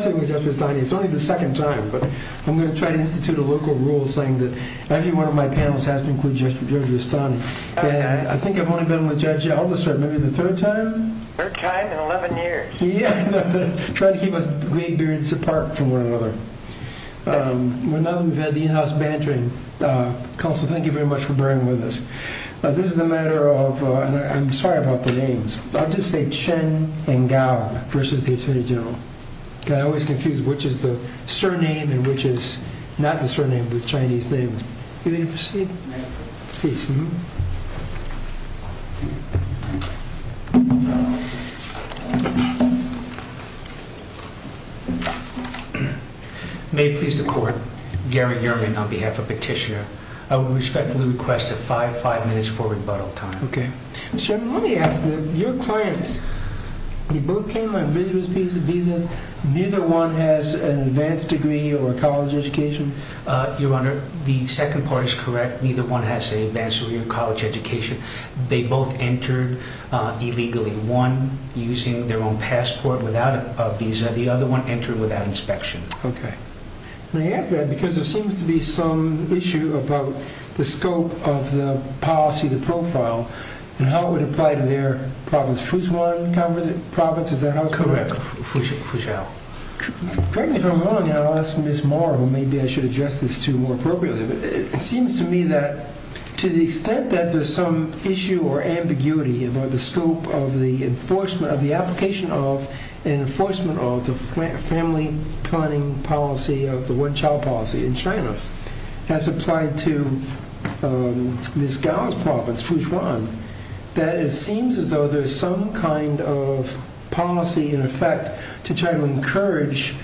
It's only the second time, but I'm going to try to institute a local rule saying that every one of my panels has to include Judge Giovanni. I think I've only been with Judge Aldister maybe the third time? Third time in 11 years. Yeah. Try to keep us great beards apart from one another. Now that we've had the in-house bantering, Counselor, thank you very much for bearing with us. This is a matter of, and I'm sorry about the names, I'll just say Chen and Gow versus the Attorney General. I always confuse which is the surname and which is not the surname, but the Chinese name. You may proceed. May it please the Court, Gary Yerman on behalf of Petitioner. I would respect the request of five minutes for rebuttal time. Okay. Let me ask your clients. Neither one has an advanced degree or a college education. Your Honor, the second part is correct. Neither one has an advanced degree or college education. They both entered illegally. One using their own passport without a visa. The other one entered without inspection. Okay. May I ask that because there seems to be some issue about the scope of the policy, the profile, and how it would apply to their province. Fuzhuan province, is that how it's called? Correct. Fuzhuan. Correct me if I'm wrong, and I'll ask Ms. Moore, who maybe I should address this to more appropriately. It seems to me that to the extent that there's some issue or ambiguity about the scope of the enforcement of the application of an enforcement of the family planning policy of the one child policy in China, as applied to Ms. Gao's province, Fuzhuan, that it seems as though there's some kind of policy in effect to try to encourage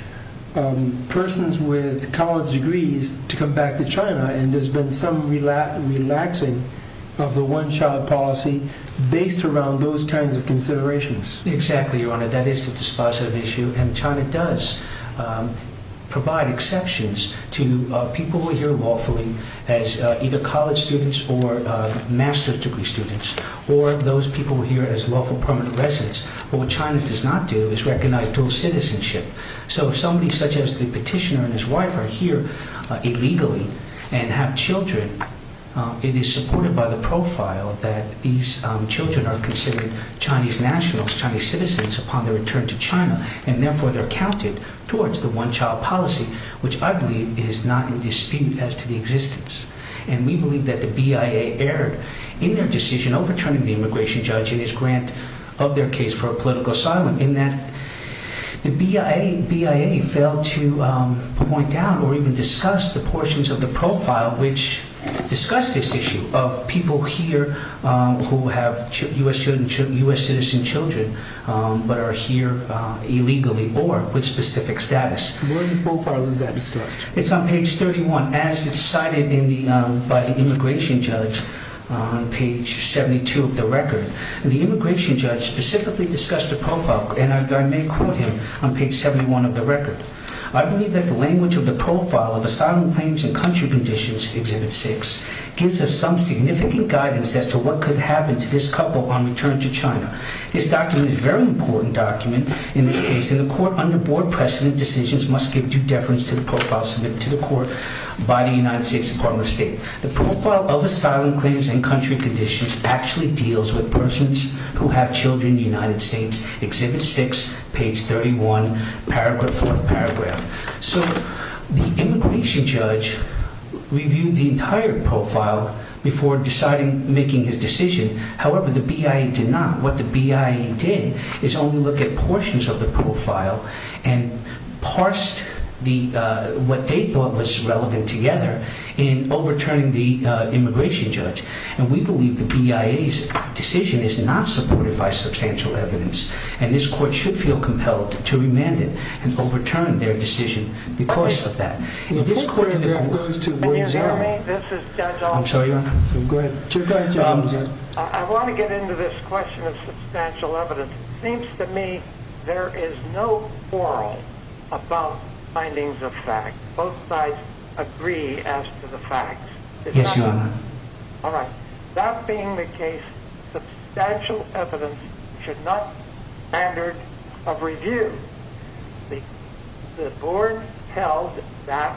persons with college degrees to come back to China, and there's been some relaxing of the one child policy based around those kinds of considerations. Exactly, Your Honor. That is the dispositive issue, and to people who are here lawfully as either college students or master's degree students, or those people who are here as lawful permanent residents, what China does not do is recognize dual citizenship. So if somebody such as the petitioner and his wife are here illegally and have children, it is supported by the profile that these children are considered Chinese nationals, Chinese citizens upon their return to China, and therefore they're counted towards the one child policy, which I believe is not in dispute as to the existence, and we believe that the BIA erred in their decision overturning the immigration judge in his grant of their case for a political asylum, in that the BIA failed to point down or even discuss the portions of the profile which discuss this issue of people here who have U.S. citizen children but are here illegally or with specific status. Where in the profile is that discussed? It's on page 31, as it's cited by the immigration judge on page 72 of the record. The immigration judge specifically discussed the profile, and I may quote him on page 71 of the record. I believe that the language of the profile of asylum claims and country conditions, Exhibit 6, gives us some significant guidance as to what could happen to this couple on return to China. This document is a very important document in this case, and the court under board precedent decisions must give due deference to the profile submitted to the court by the United States Department of State. The profile of asylum claims and country conditions actually deals with persons who have children in the United States, Exhibit 6, page 31, paragraph 4th paragraph. So the immigration judge reviewed the entire profile before deciding, making his decision. However, the BIA did not. What the BIA did is only look at portions of the profile and parsed what they thought was relevant together in overturning the immigration judge, and we believe the BIA's decision is not supported by substantial evidence, and this court should feel compelled to remand it and overturn their decision because of that. This paragraph goes to word zero. Can you hear me? This is Judge Armstrong. I want to get into this question of substantial evidence. It seems to me there is no quarrel about findings of fact. Both sides agree as to the facts. Yes, Your Honor. All right. That being the case, substantial evidence should not standard of review. The board held that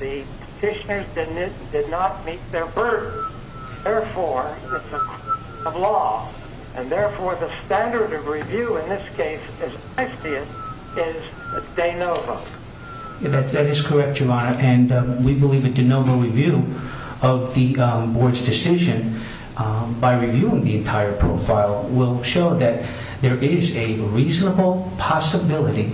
the petitioners did not meet their burden. Therefore, it's a question of law, and therefore, the standard of review in this case is De Nova. That is correct, Your Honor, and we believe a De Nova review of the board's decision by There is a reasonable possibility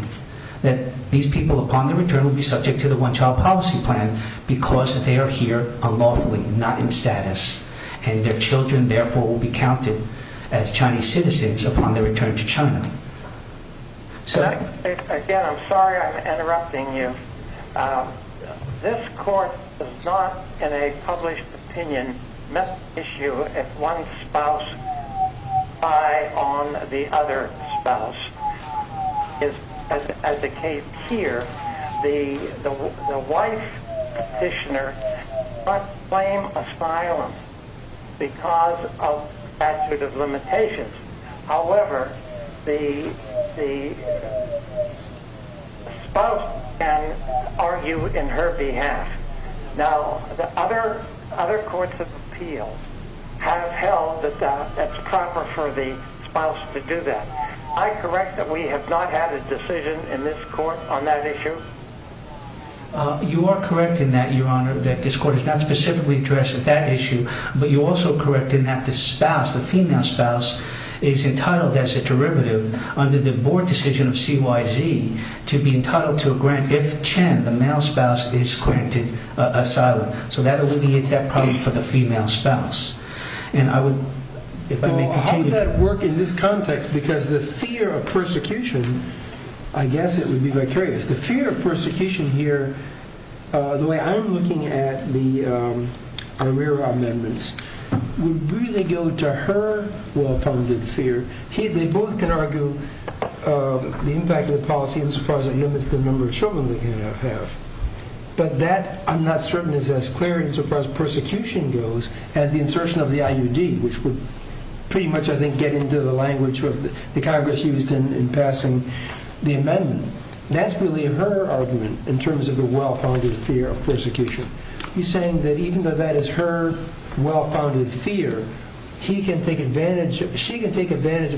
that these people, upon their return, will be subject to the One Child Policy Plan because they are here unlawfully, not in status, and their children, therefore, will be counted as Chinese citizens upon their return to China. Again, I'm sorry I'm interrupting you. This court does not, in a published opinion, issue if one spouse is on the other spouse. As it states here, the wife petitioner must claim asylum because of statute of limitations. However, the spouse can argue in her behalf. Now, the other courts of appeal have held that that's proper for the spouse to do that. I correct that we have not had a decision in this court on that issue? You are correct in that, Your Honor, that this court has not specifically addressed that issue, but you're also correct in that the spouse, the female spouse, is entitled as a derivative under the board decision of CYZ to be entitled to a grant if Chen, the male spouse, is granted asylum. So that would be, it's that problem for the female spouse. Well, how would that work in this context? Because the fear of persecution, I guess it would be vicarious. The fear of persecution here, the way I'm looking at the arrear amendments, would really go to her well-founded fear. They both can argue the impact of the policy as far as limits the number of children they can have. But that, I'm not certain, is as clear as far as persecution goes as the insertion of the IUD, which would pretty much, I think, get into the language the Congress used in passing the amendment. That's really her argument in terms of the well-founded fear of persecution. You're saying that even though that is her well-founded fear, she can take advantage of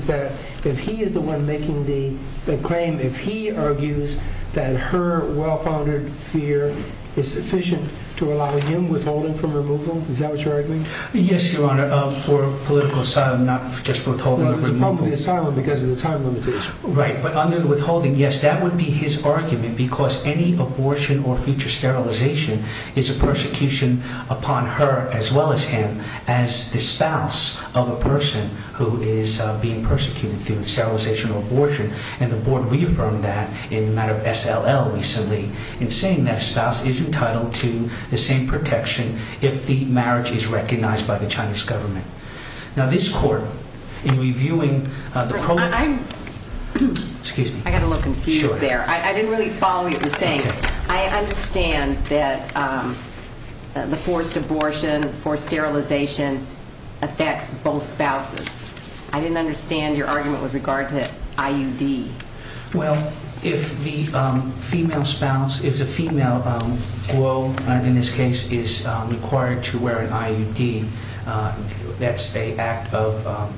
that if he is the one making the claim, if he argues that her well-founded fear is sufficient to allow him withholding from removal? Is that what you're arguing? Yes, Your Honor, for political asylum, not just for withholding from removal. Well, it's probably asylum because of the time limitations. Right, but under withholding, yes, that would be his argument because any abortion or future sterilization is a persecution upon her as well as him as the spouse of a person who is being persecuted through sterilization or abortion. And the Board reaffirmed that in the matter of SLL recently in saying that a spouse is entitled to the same protection if the marriage is recognized by the Chinese government. Now, this Court, in reviewing the program... I'm... Excuse me. I got a little confused there. Sure. I didn't really follow what you were saying. Okay. I understand that the forced abortion, forced sterilization affects both spouses. I didn't understand your argument with regard to IUD. Well, if the female spouse, if the female, well, in this case, is required to wear an IUD, that's the act of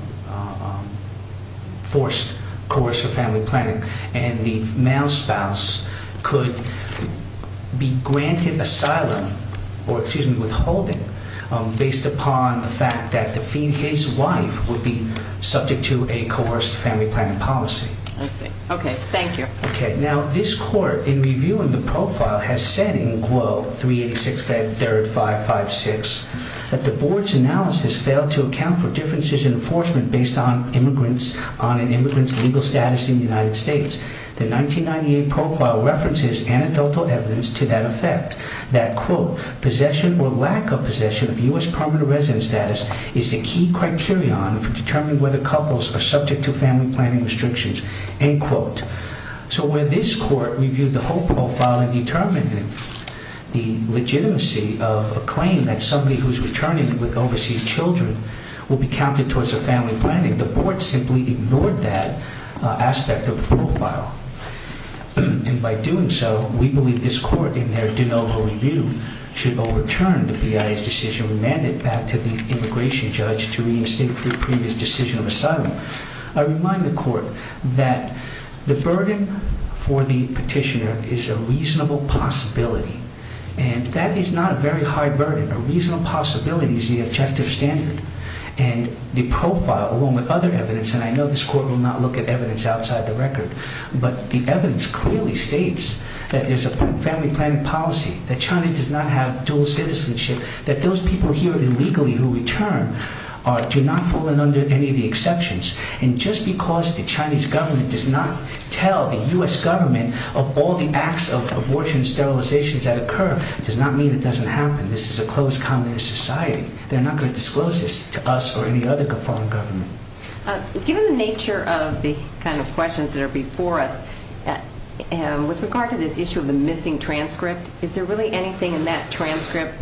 forced coercive family planning, and the male spouse could be granted asylum or, excuse me, withholding based upon the fact that his wife would be subject to a coerced family planning policy. I see. Okay. Thank you. Okay. Now, this Court, in reviewing the profile, has said in, quote, 386-3556, that the Board's analysis failed to account for differences in enforcement based on immigrants, on an immigrant's legal status in the United States. The 1998 profile references anecdotal evidence to that effect. That, quote, possession or lack of possession of U.S. permanent residence status is the key criterion for determining whether couples are subject to family planning restrictions, end quote. So where this Court reviewed the whole profile and determined the legitimacy of a claim that somebody who's returning with overseas children will be counted towards a family planning, And by doing so, we believe this Court, in their de novo review, should overturn the BIA's decision to remand it back to the immigration judge to reinstate the previous decision of asylum. I remind the Court that the burden for the petitioner is a reasonable possibility, and that is not a very high burden. A reasonable possibility is the objective standard, and the profile, along with other evidence, and I know this Court will not look at evidence outside the record, but the evidence clearly states that there's a family planning policy, that China does not have dual citizenship, that those people here illegally who return do not fall in under any of the exceptions. And just because the Chinese government does not tell the U.S. government of all the acts of abortion sterilizations that occur does not mean it doesn't happen. This is a closed communist society. They're not going to disclose this to us or any other foreign government. Given the nature of the kind of questions that are before us, with regard to this issue of the missing transcript, is there really anything in that transcript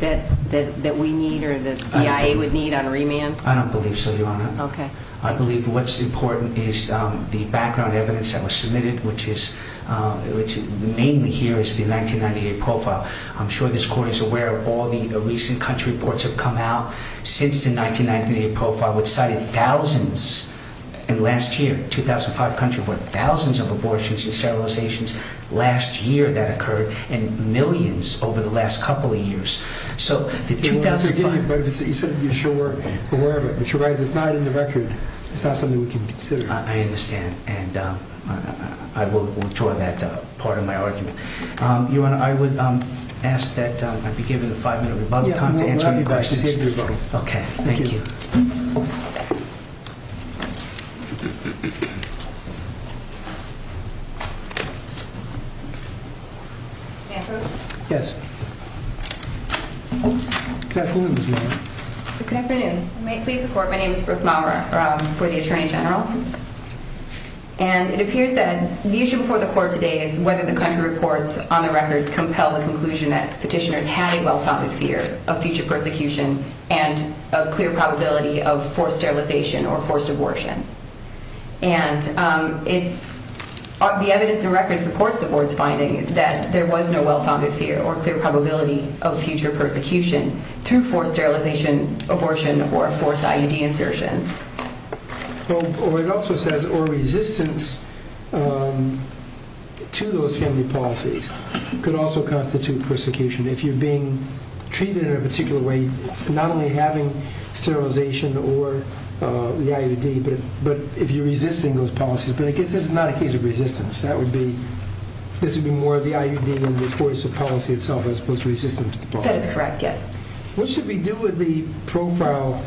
that we need or the BIA would need on remand? I don't believe so, Your Honor. I believe what's important is the background evidence that was submitted, which mainly here is the 1998 profile. I'm sure this Court is aware of all the recent country reports that have come out since the 1998 profile which cited thousands in the last year, 2005 country report, thousands of abortions and sterilizations last year that occurred, and millions over the last couple of years. You said you're sure aware of it, but you're right. It's not in the record. It's not something we can consider. I understand, and I will withdraw that part of my argument. Your Honor, I would ask that I be given a five-minute rebuttal time to answer any questions. Okay. Thank you. May I prove? Yes. Good afternoon, Your Honor. Good afternoon. May it please the Court, my name is Brooke Maurer. I'm for the Attorney General. And it appears that the issue before the Court today is whether the country reports on the record compel the conclusion that petitioners had a well-founded fear of future persecution and a clear probability of forced sterilization or forced abortion. And the evidence in record supports the Board's finding that there was no well-founded fear or clear probability of future persecution through forced sterilization, abortion, or a forced IUD insertion. Well, it also says, or resistance to those family policies could also constitute persecution. If you're being treated in a particular way, not only having sterilization or the IUD, but if you're resisting those policies, but I guess this is not a case of resistance. That would be, this would be more of the IUD in the course of policy itself as opposed to resistance to the policy. That is correct, yes. What should we do with the profile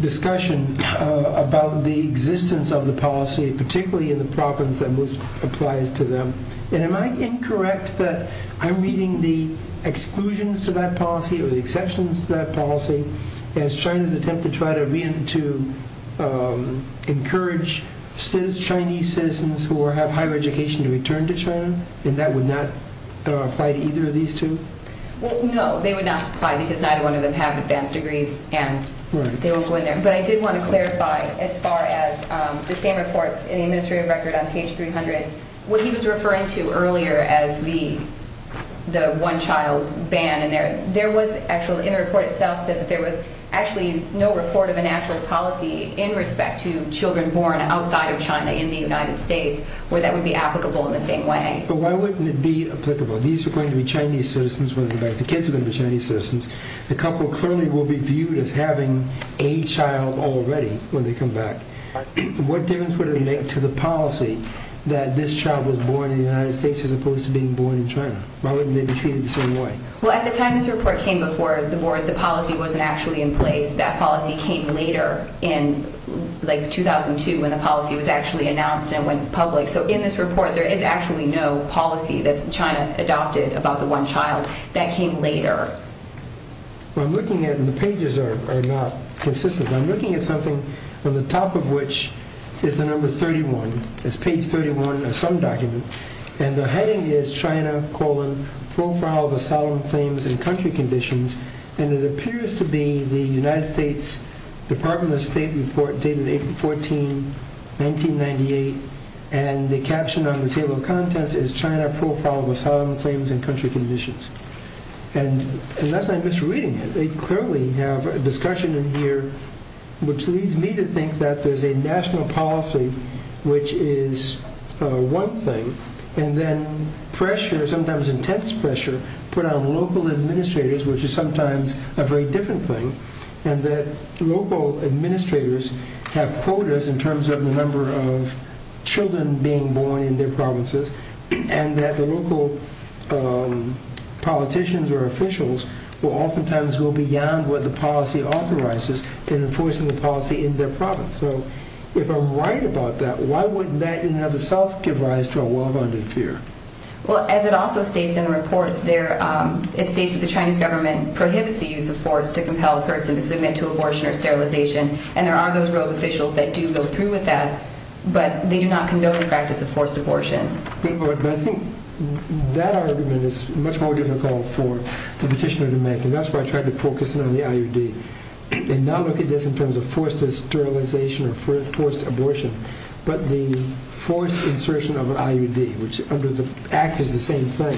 discussion about the existence of the policy, particularly in the province that most applies to them? And am I incorrect that I'm reading the exclusions to that policy or the exceptions to that policy as China's attempt to try to encourage Chinese citizens who have higher education to return to China? And that would not apply to either of these two? Well, no, they would not apply because neither one of them have advanced degrees, and they will go in there. But I did want to clarify, as far as the same reports in the administrative record on page 300, what he was referring to earlier as the one-child ban, and there was actually, in the report itself, said that there was actually no report of a natural policy in respect to children born outside of China in the United States, where that would be applicable in the same way. But why wouldn't it be applicable? These are going to be Chinese citizens when they're back. The kids are going to be Chinese citizens. The couple clearly will be viewed as having a child already when they come back. What difference would it make to the policy that this child was born in the United States as opposed to being born in China? Why wouldn't they be treated the same way? Well, at the time this report came before the board, the policy wasn't actually in place. That policy came later in, like, 2002 when the policy was actually announced and went public. So in this report, there is actually no policy that China adopted about the one child. That came later. Well, I'm looking at it, and the pages are not consistent. I'm looking at something on the top of which is the number 31. It's page 31 of some document, and the heading is China, colon, Profile of Asylum Claims and Country Conditions, and it appears to be the United States Department of State report dated April 14, 1998, and the caption on the table of contents is China, Profile of Asylum Claims and Country Conditions. And unless I'm misreading it, they clearly have a discussion in here which leads me to think that there's a national policy, which is one thing, and then pressure, sometimes intense pressure, put on local administrators, which is sometimes a very different thing, and that local administrators have quotas in terms of the number of children being born in their provinces, and that the local politicians or officials will oftentimes go beyond what the policy authorizes in enforcing the policy in their province. So if I'm right about that, why wouldn't that in and of itself give rise to a well-founded fear? It states that the Chinese government prohibits the use of force to compel a person to submit to abortion or sterilization, and there are those rogue officials that do go through with that, but they do not condone the practice of forced abortion. But I think that argument is much more difficult for the petitioner to make, and that's why I tried to focus in on the IUD, and not look at this in terms of forced sterilization or forced abortion, but the forced insertion of an IUD, which under the Act is the same thing.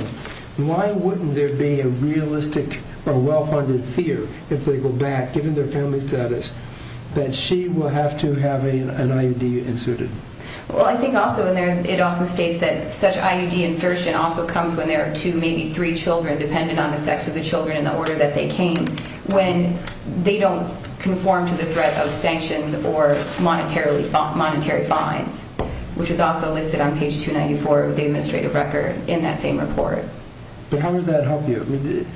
Why wouldn't there be a realistic or well-founded fear, if they go back, given their family status, that she will have to have an IUD inserted? Well, I think it also states that such IUD insertion also comes when there are two, maybe three children, dependent on the sex of the children and the order that they came, when they don't conform to the threat of sanctions or monetary fines, which is also listed on page 294 of the administrative record in that same report. But how does that help you?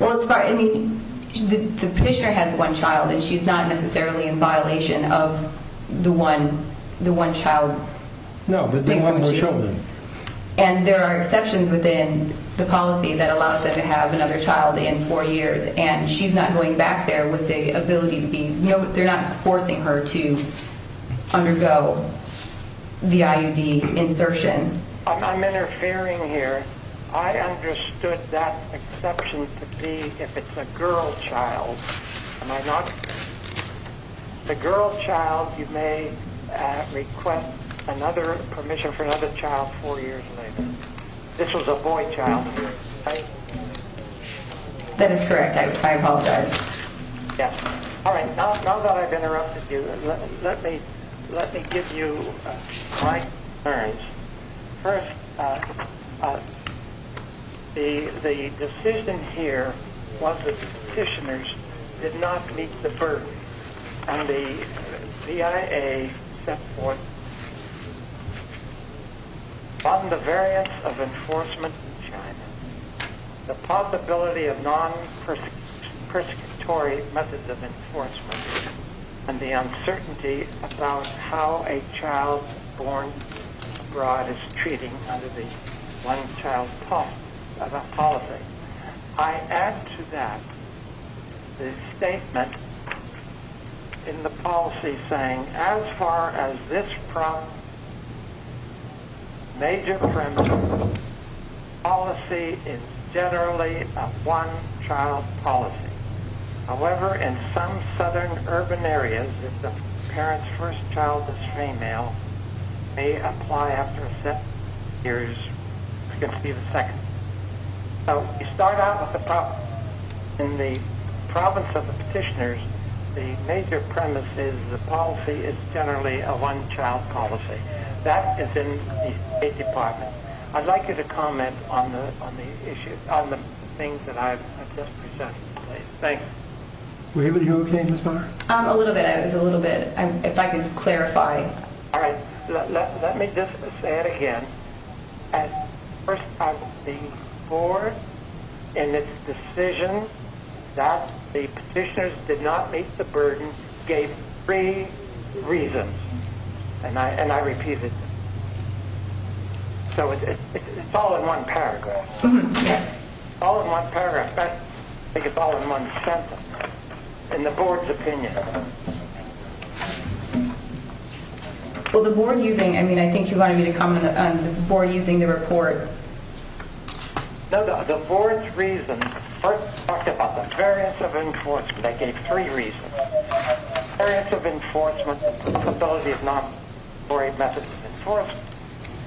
Well, the petitioner has one child, and she's not necessarily in violation of the one-child principle. No, but they have more children. And there are exceptions within the policy that allows them to have another child in four years, and she's not going back there with the ability to be, you know, they're not forcing her to undergo the IUD insertion. I'm interfering here. I understood that exception to be if it's a girl child. Am I not? The girl child, you may request permission for another child four years later. This was a boy child, right? That is correct. I apologize. Yes. All right, now that I've interrupted you, let me give you my concerns. First, the decision here was that the petitioners did not meet the burden, and the CIA set forth on the variance of enforcement in China, the possibility of non-persecutory methods of enforcement, and the uncertainty about how a child born abroad is treated under the one-child policy. I add to that the statement in the policy saying, as far as this major principle, policy is generally a one-child policy. However, in some southern urban areas, if the parent's first child is female, may apply after a set of years to conceive a second. So you start out with the problem. In the province of the petitioners, the major premise is the policy is generally a one-child policy. That is in the State Department. I'd like you to comment on the things that I've just presented. Thanks. Are you okay, Ms. Barr? A little bit. It was a little bit. If I could clarify. All right. Let me just say it again. First, the board in its decision that the petitioners did not meet the burden gave three reasons, and I repeat it. So it's all in one paragraph. All in one paragraph. I think it's all in one sentence, in the board's opinion. Well, the board using the report. No, the board's reasons first talked about the variance of enforcement. They gave three reasons. Variance of enforcement, the possibility of non-employee methods of enforcement,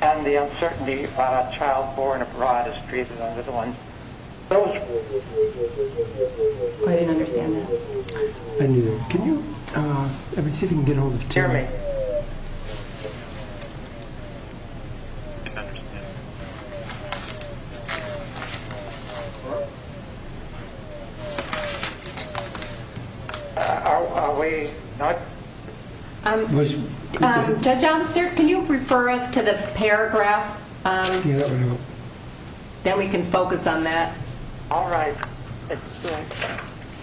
and the uncertainty about a child born abroad is treated under the one. I didn't understand that. I didn't either. Can you, let me see if I can get ahold of Terry. Terry. Are we not? Judge Onster, can you refer us to the paragraph? Yeah. Then we can focus on that. All right.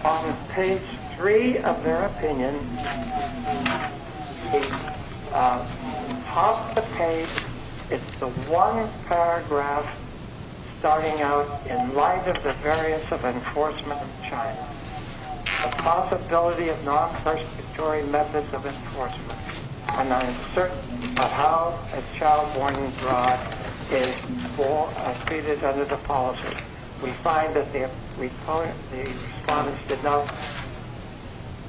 On page three of their opinion, at the top of the page, it's the one paragraph starting out, in light of the variance of enforcement of the child, the possibility of non-perspiratory methods of enforcement, and the uncertainty about how a child born abroad is treated under the policy. We find that the respondents did not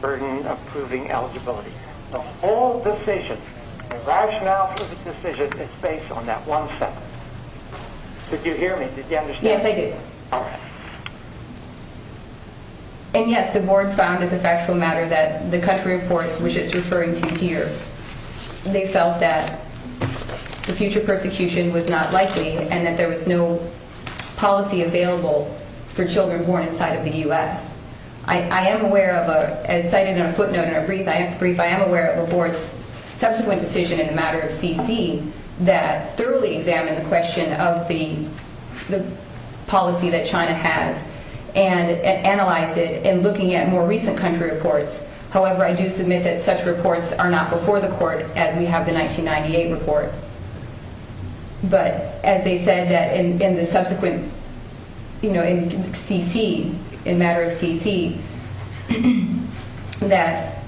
burden approving eligibility. The whole decision, the rationale for the decision, is based on that one sentence. Did you hear me? Did you understand? Yes, I did. And, yes, the board found as a factual matter that the country reports, which it's referring to here, they felt that the future persecution was not likely and that there was no policy available for children born inside of the U.S. I am aware of a, as cited in a footnote in a brief, I am aware of a board's subsequent decision in the matter of CC that thoroughly examined the question of the policy that China has and analyzed it in looking at more recent country reports. However, I do submit that such reports are not before the court as we have the 1998 report. But as they said that in the subsequent, you know, in CC, in matter of CC, that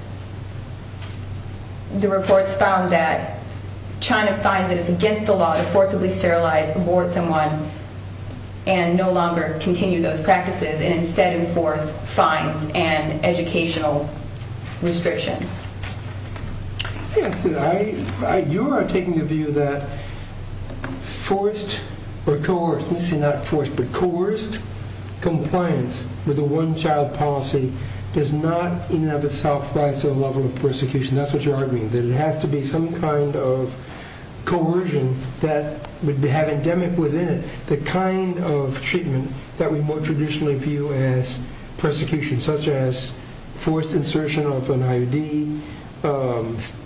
the reports found that China finds it is against the law to forcibly sterilize, abort someone, and no longer continue those practices and instead enforce fines and educational restrictions. Yes, you are taking the view that forced or coerced, obviously not forced, but coerced compliance with a one-child policy does not in and of itself rise to a level of persecution. That's what you're arguing, that it has to be some kind of coercion that would have endemic within it, the kind of treatment that we more traditionally view as persecution, such as forced insertion of an IUD,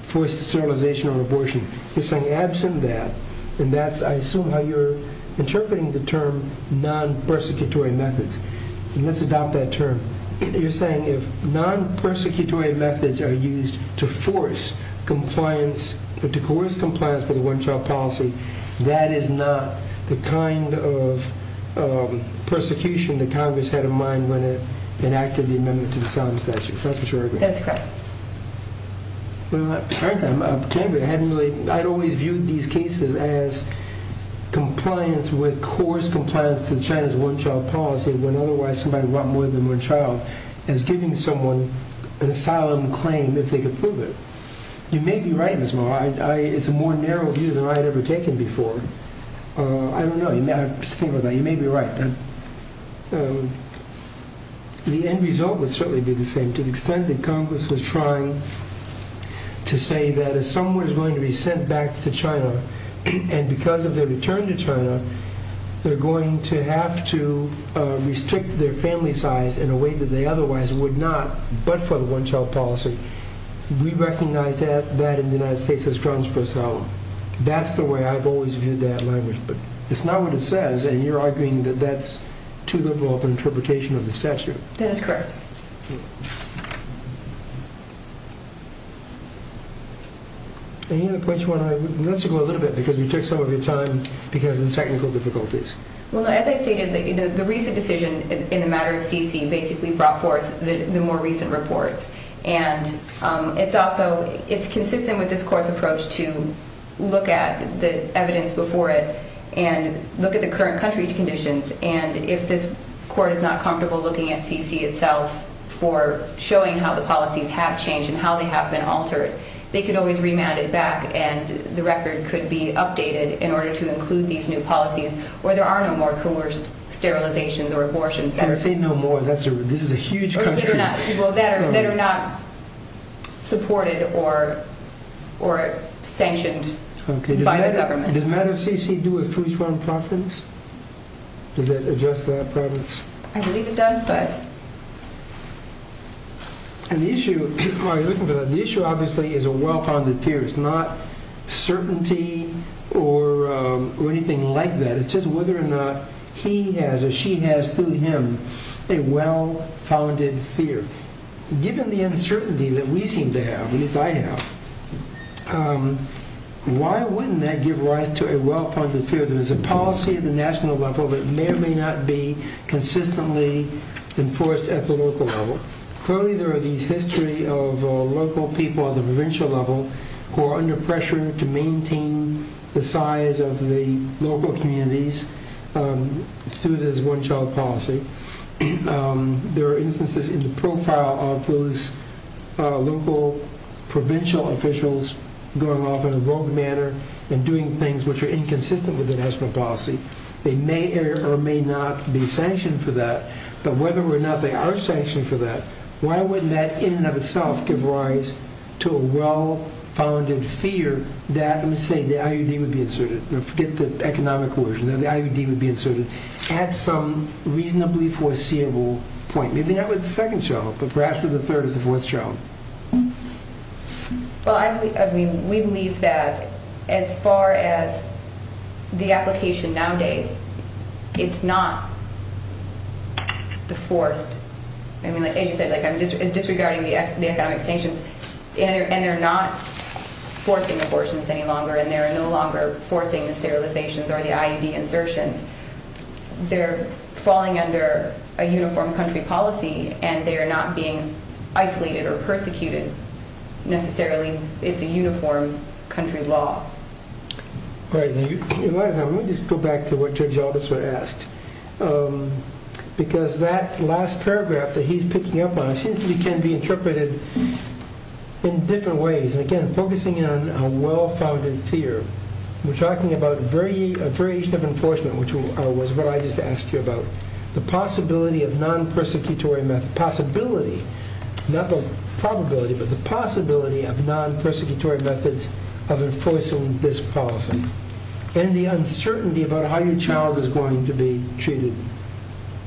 forced sterilization or abortion. You're saying absent that, and that's, I assume, how you're interpreting the term non-persecutory methods. Let's adopt that term. You're saying if non-persecutory methods are used to force compliance, to coerce compliance with a one-child policy, that is not the kind of persecution that Congress had in mind when it enacted the Amendment to the Sums statute. That's what you're arguing. That's correct. Well, frankly, I'd always viewed these cases as compliance with coerced compliance to China's one-child policy when otherwise somebody brought more than one child, as giving someone an asylum claim if they could prove it. You may be right, Ms. Moore. It's a more narrow view than I had ever taken before. I don't know. You may be right. The end result would certainly be the same. But to the extent that Congress was trying to say that if someone is willing to be sent back to China, and because of their return to China, they're going to have to restrict their family size in a way that they otherwise would not, but for the one-child policy, we recognize that in the United States as grounds for asylum. That's the way I've always viewed that language. But it's not what it says, and you're arguing that that's too liberal of an interpretation of the statute. That is correct. Any other points you want to make? Let's go a little bit, because we took some of your time because of the technical difficulties. Well, as I stated, the recent decision in the matter of CC basically brought forth the more recent reports, and it's also consistent with this court's approach and look at the current country's conditions, and if this court is not comfortable looking at CC itself for showing how the policies have changed and how they have been altered, they could always remand it back, and the record could be updated in order to include these new policies, where there are no more coerced sterilizations or abortions. When I say no more, this is a huge country. Well, that are not supported or sanctioned by the government. Does the matter of CC do it for its own profits? Does it address that problem? I believe it does, but... The issue, obviously, is a well-founded fear. It's not certainty or anything like that. It's just whether or not he has or she has, through him, a well-founded fear. Given the uncertainty that we seem to have, at least I have, why wouldn't that give rise to a well-founded fear that there's a policy at the national level that may or may not be consistently enforced at the local level? Clearly, there are these history of local people at the provincial level who are under pressure to maintain the size of the local communities through this one-child policy. There are instances in the profile of those local provincial officials going off in a rogue manner and doing things which are inconsistent with the national policy. They may or may not be sanctioned for that, but whether or not they are sanctioned for that, why wouldn't that, in and of itself, give rise to a well-founded fear that, let me say, the IUD would be inserted. Forget the economic coercion. The IUD would be inserted at some reasonably foreseeable point. Maybe not with the second child, but perhaps with the third or the fourth child. Well, we believe that, as far as the application nowadays, it's not the forced... As you said, it's disregarding the economic sanctions, and they're not forcing abortions any longer, and they're no longer forcing the sterilizations or the IUD insertions. They're falling under a uniform country policy, and they're not being isolated or persecuted. Necessarily, it's a uniform country law. All right, Eliza, let me just go back to what Judge Aldous would have asked, because that last paragraph that he's picking up on seems to be interpreted in different ways, and again, focusing on a well-founded fear. We're talking about a variation of enforcement, which was what I just asked you about. The possibility of non-persecutory method... Possibility, not the probability, but the possibility of non-persecutory methods of enforcing this policy, and the uncertainty about how your child is going to be treated.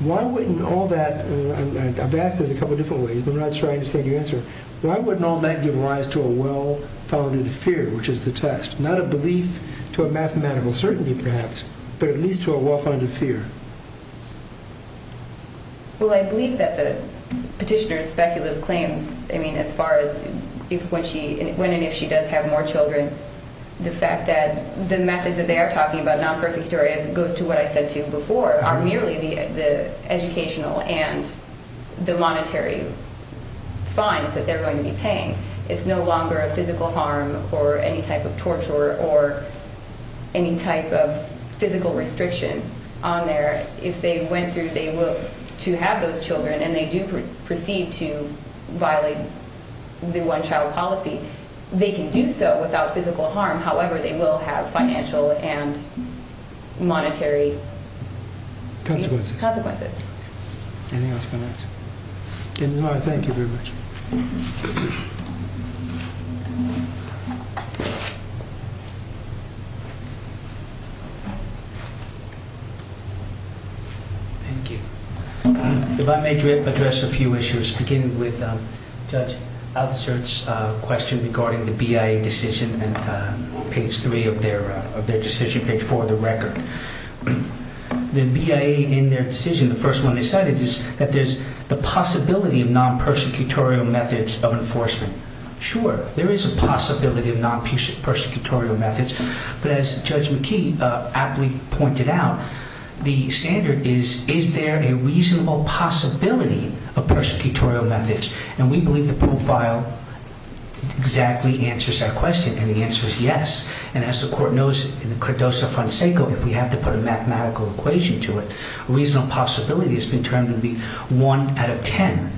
Why wouldn't all that... I've asked this a couple of different ways. I'm not sure I understand your answer. Why wouldn't all that give rise to a well-founded fear, which is the test? Not a belief to a mathematical certainty, perhaps, but at least to a well-founded fear? Well, I believe that the petitioner's speculative claims, I mean, as far as when and if she does have more children, the fact that the methods that they are talking about, non-persecutory, as it goes to what I said to you before, are merely the educational and the monetary fines that they're going to be paying. It's no longer a physical harm or any type of torture or any type of physical restriction on there. If they went through to have those children, and they do proceed to violate the one-child policy, they can do so without physical harm. However, they will have financial and monetary... Consequences. Consequences. Anything else you want to add to that? Ms. Maher, thank you very much. Thank you. If I may address a few issues, beginning with Judge Altschulz's question regarding the BIA decision on page 3 of their decision, page 4 of the record. The BIA in their decision, the first one they said, is that there's the possibility of non-persecutorial methods of enforcement. Sure, there is a possibility of non-persecutorial methods of enforcement. But as Judge McKee aptly pointed out, the standard is, is there a reasonable possibility of persecutorial methods? And we believe the profile exactly answers that question, and the answer is yes. And as the Court knows in the credoso franceco, if we have to put a mathematical equation to it, a reasonable possibility has been termed to be 1 out of 10.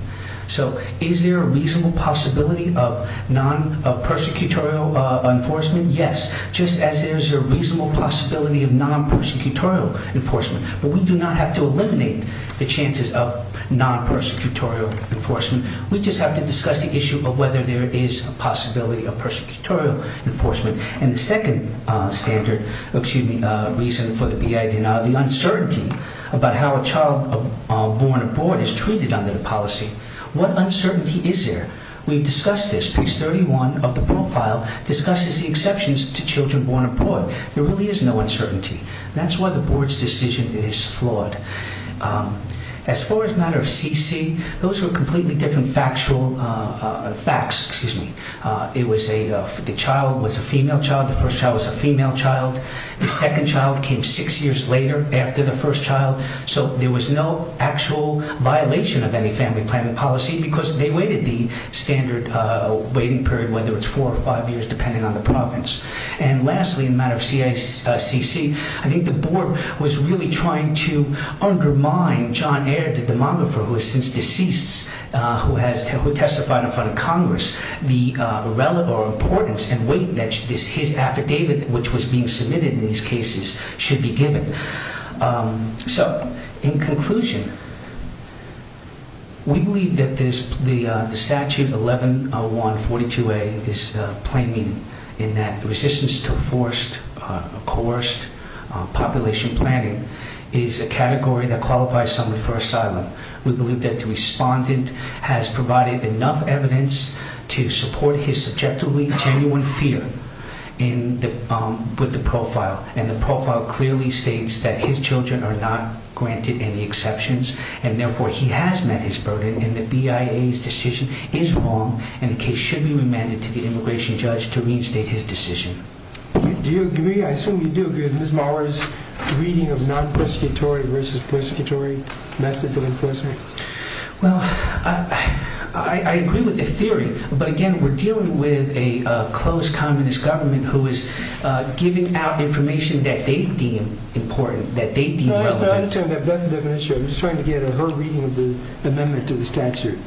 So is there a reasonable possibility of non-persecutorial enforcement? Yes, just as there's a reasonable possibility of non-persecutorial enforcement. But we do not have to eliminate the chances of non-persecutorial enforcement. We just have to discuss the issue of whether there is a possibility of persecutorial enforcement. And the second standard, excuse me, reason for the BIA denial, the uncertainty about how a child born abroad is treated under the policy. What uncertainty is there? We've discussed this. Section 231 of the profile discusses the exceptions to children born abroad. There really is no uncertainty. That's why the Board's decision is flawed. As far as matter of CC, those are completely different factual facts, excuse me. The child was a female child. The first child was a female child. The second child came six years later after the first child. So there was no actual violation of any family planning policy because they waited the standard waiting period, whether it's four or five years, depending on the province. And lastly, in matter of CICC, I think the Board was really trying to undermine John Eyre, the demographer, who is since deceased, who testified in front of Congress, the relevance or importance and weight that his affidavit, which was being submitted in these cases, should be given. So, in conclusion, we believe that the statute 110142A is plain meaning in that resistance to forced, coerced population planning is a category that qualifies someone for asylum. We believe that the respondent has provided enough evidence to support his subjectively genuine fear with the profile, and the profile clearly states that his children are not granted any exceptions, and therefore he has met his burden and the BIA's decision is wrong, and the case should be remanded to the immigration judge to reinstate his decision. Do you agree, I assume you do agree, with Ms. Maurer's reading of non-persecutory versus persecutory methods of enforcement? Well, I agree with the theory, but again, we're dealing with a close communist government who is giving out information that they deem important, that they deem relevant. I'm just trying to get a heard reading of the amendment to the statute,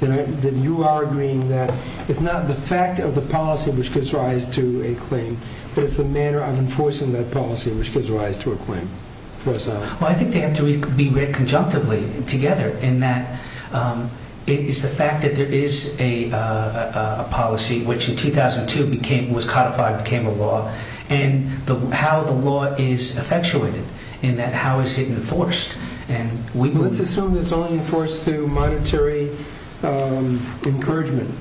that you are agreeing that it's not the fact of the policy which gives rise to a claim, but it's the manner of enforcing that policy which gives rise to a claim for asylum. Well, I think they have to be read conjunctively together in that it's the fact that there is a policy, which in 2002 was codified and became a law, and how the law is effectuated, in that how is it enforced? Well, let's assume it's only enforced through monetary encouragement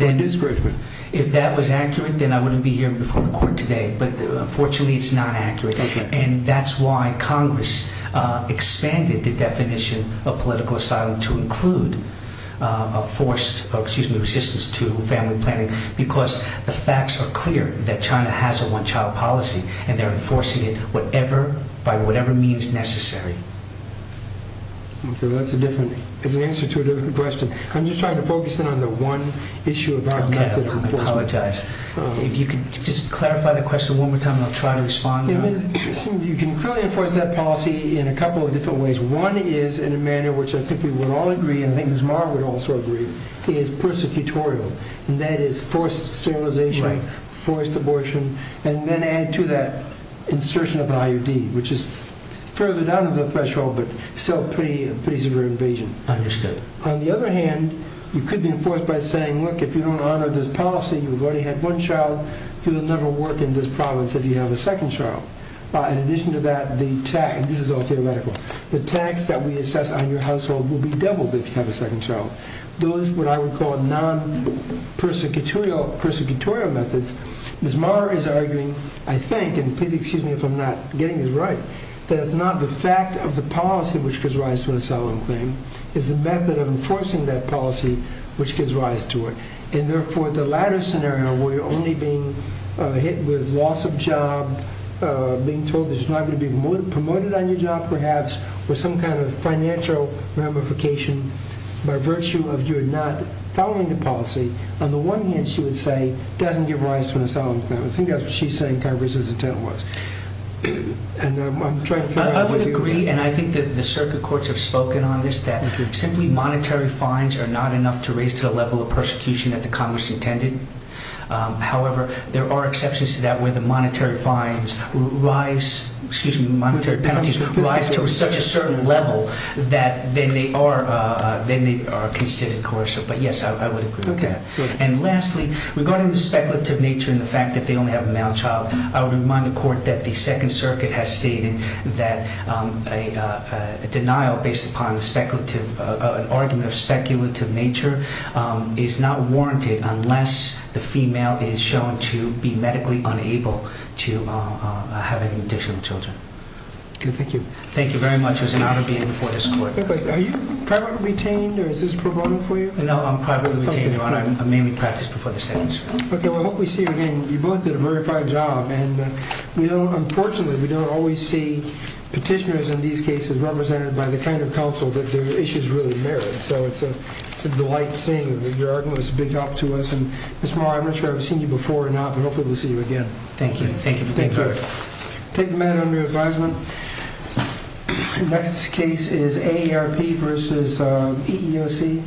and discouragement. If that was accurate, then I wouldn't be here before the court today, but unfortunately it's not accurate, and that's why Congress expanded the definition of political asylum to include resistance to family planning, because the facts are clear that China has a one-child policy, and they're enforcing it by whatever means necessary. Okay, that's an answer to a different question. I'm just trying to focus in on the one issue about method of enforcement. Okay, I apologize. If you could just clarify the question one more time, and I'll try to respond. You can clearly enforce that policy in a couple of different ways. One is in a manner which I think we would all agree, and I think Ms. Marr would also agree, is persecutorial, and that is forced sterilization, forced abortion, and then add to that insertion of an IUD, which is further down the threshold but still a pretty severe invasion. Understood. On the other hand, you could be enforced by saying, look, if you don't honor this policy, you've already had one child, you'll never work in this province if you have a second child. In addition to that, this is all theoretical, the tax that we assess on your household will be doubled if you have a second child. Those, what I would call non-persecutorial methods, Ms. Marr is arguing, I think, and please excuse me if I'm not getting this right, that it's not the fact of the policy which gives rise to an asylum claim, it's the method of enforcing that policy which gives rise to it. And therefore, the latter scenario, where you're only being hit with loss of job, being told there's not going to be promoted on your job, perhaps, or some kind of financial ramification by virtue of you not following the policy, on the one hand, she would say, doesn't give rise to an asylum claim. I think that's what she's saying Congress's intent was. I would agree, and I think that the circuit courts have spoken on this, that simply monetary fines are not enough to raise to the level of persecution that the Congress intended. However, there are exceptions to that where the monetary fines rise, excuse me, monetary penalties, rise to such a certain level that then they are considered coercive. But yes, I would agree with that. And lastly, regarding the speculative nature and the fact that they only have a male child, I would remind the court that the Second Circuit has stated that a denial based upon an argument of speculative nature is not warranted unless the female is shown to be medically unable to have any additional children. Okay, thank you. Thank you very much. It was an honor being before this court. Are you privately retained, or is this a pro bono for you? No, I'm privately retained, Your Honor. I mainly practice before the Second Circuit. Okay, well, I hope we see you again. You both did a very fine job, and we don't, unfortunately, we don't always see petitioners in these cases represented by the kind of counsel that their issues really merit. So it's a delight seeing you. Your argument was a big help to us. And, Ms. Morrow, I'm not sure I've seen you before or not, but hopefully we'll see you again. Thank you. Thank you for being here. Take the matter under your advisement. Next case is AARP versus EEOC.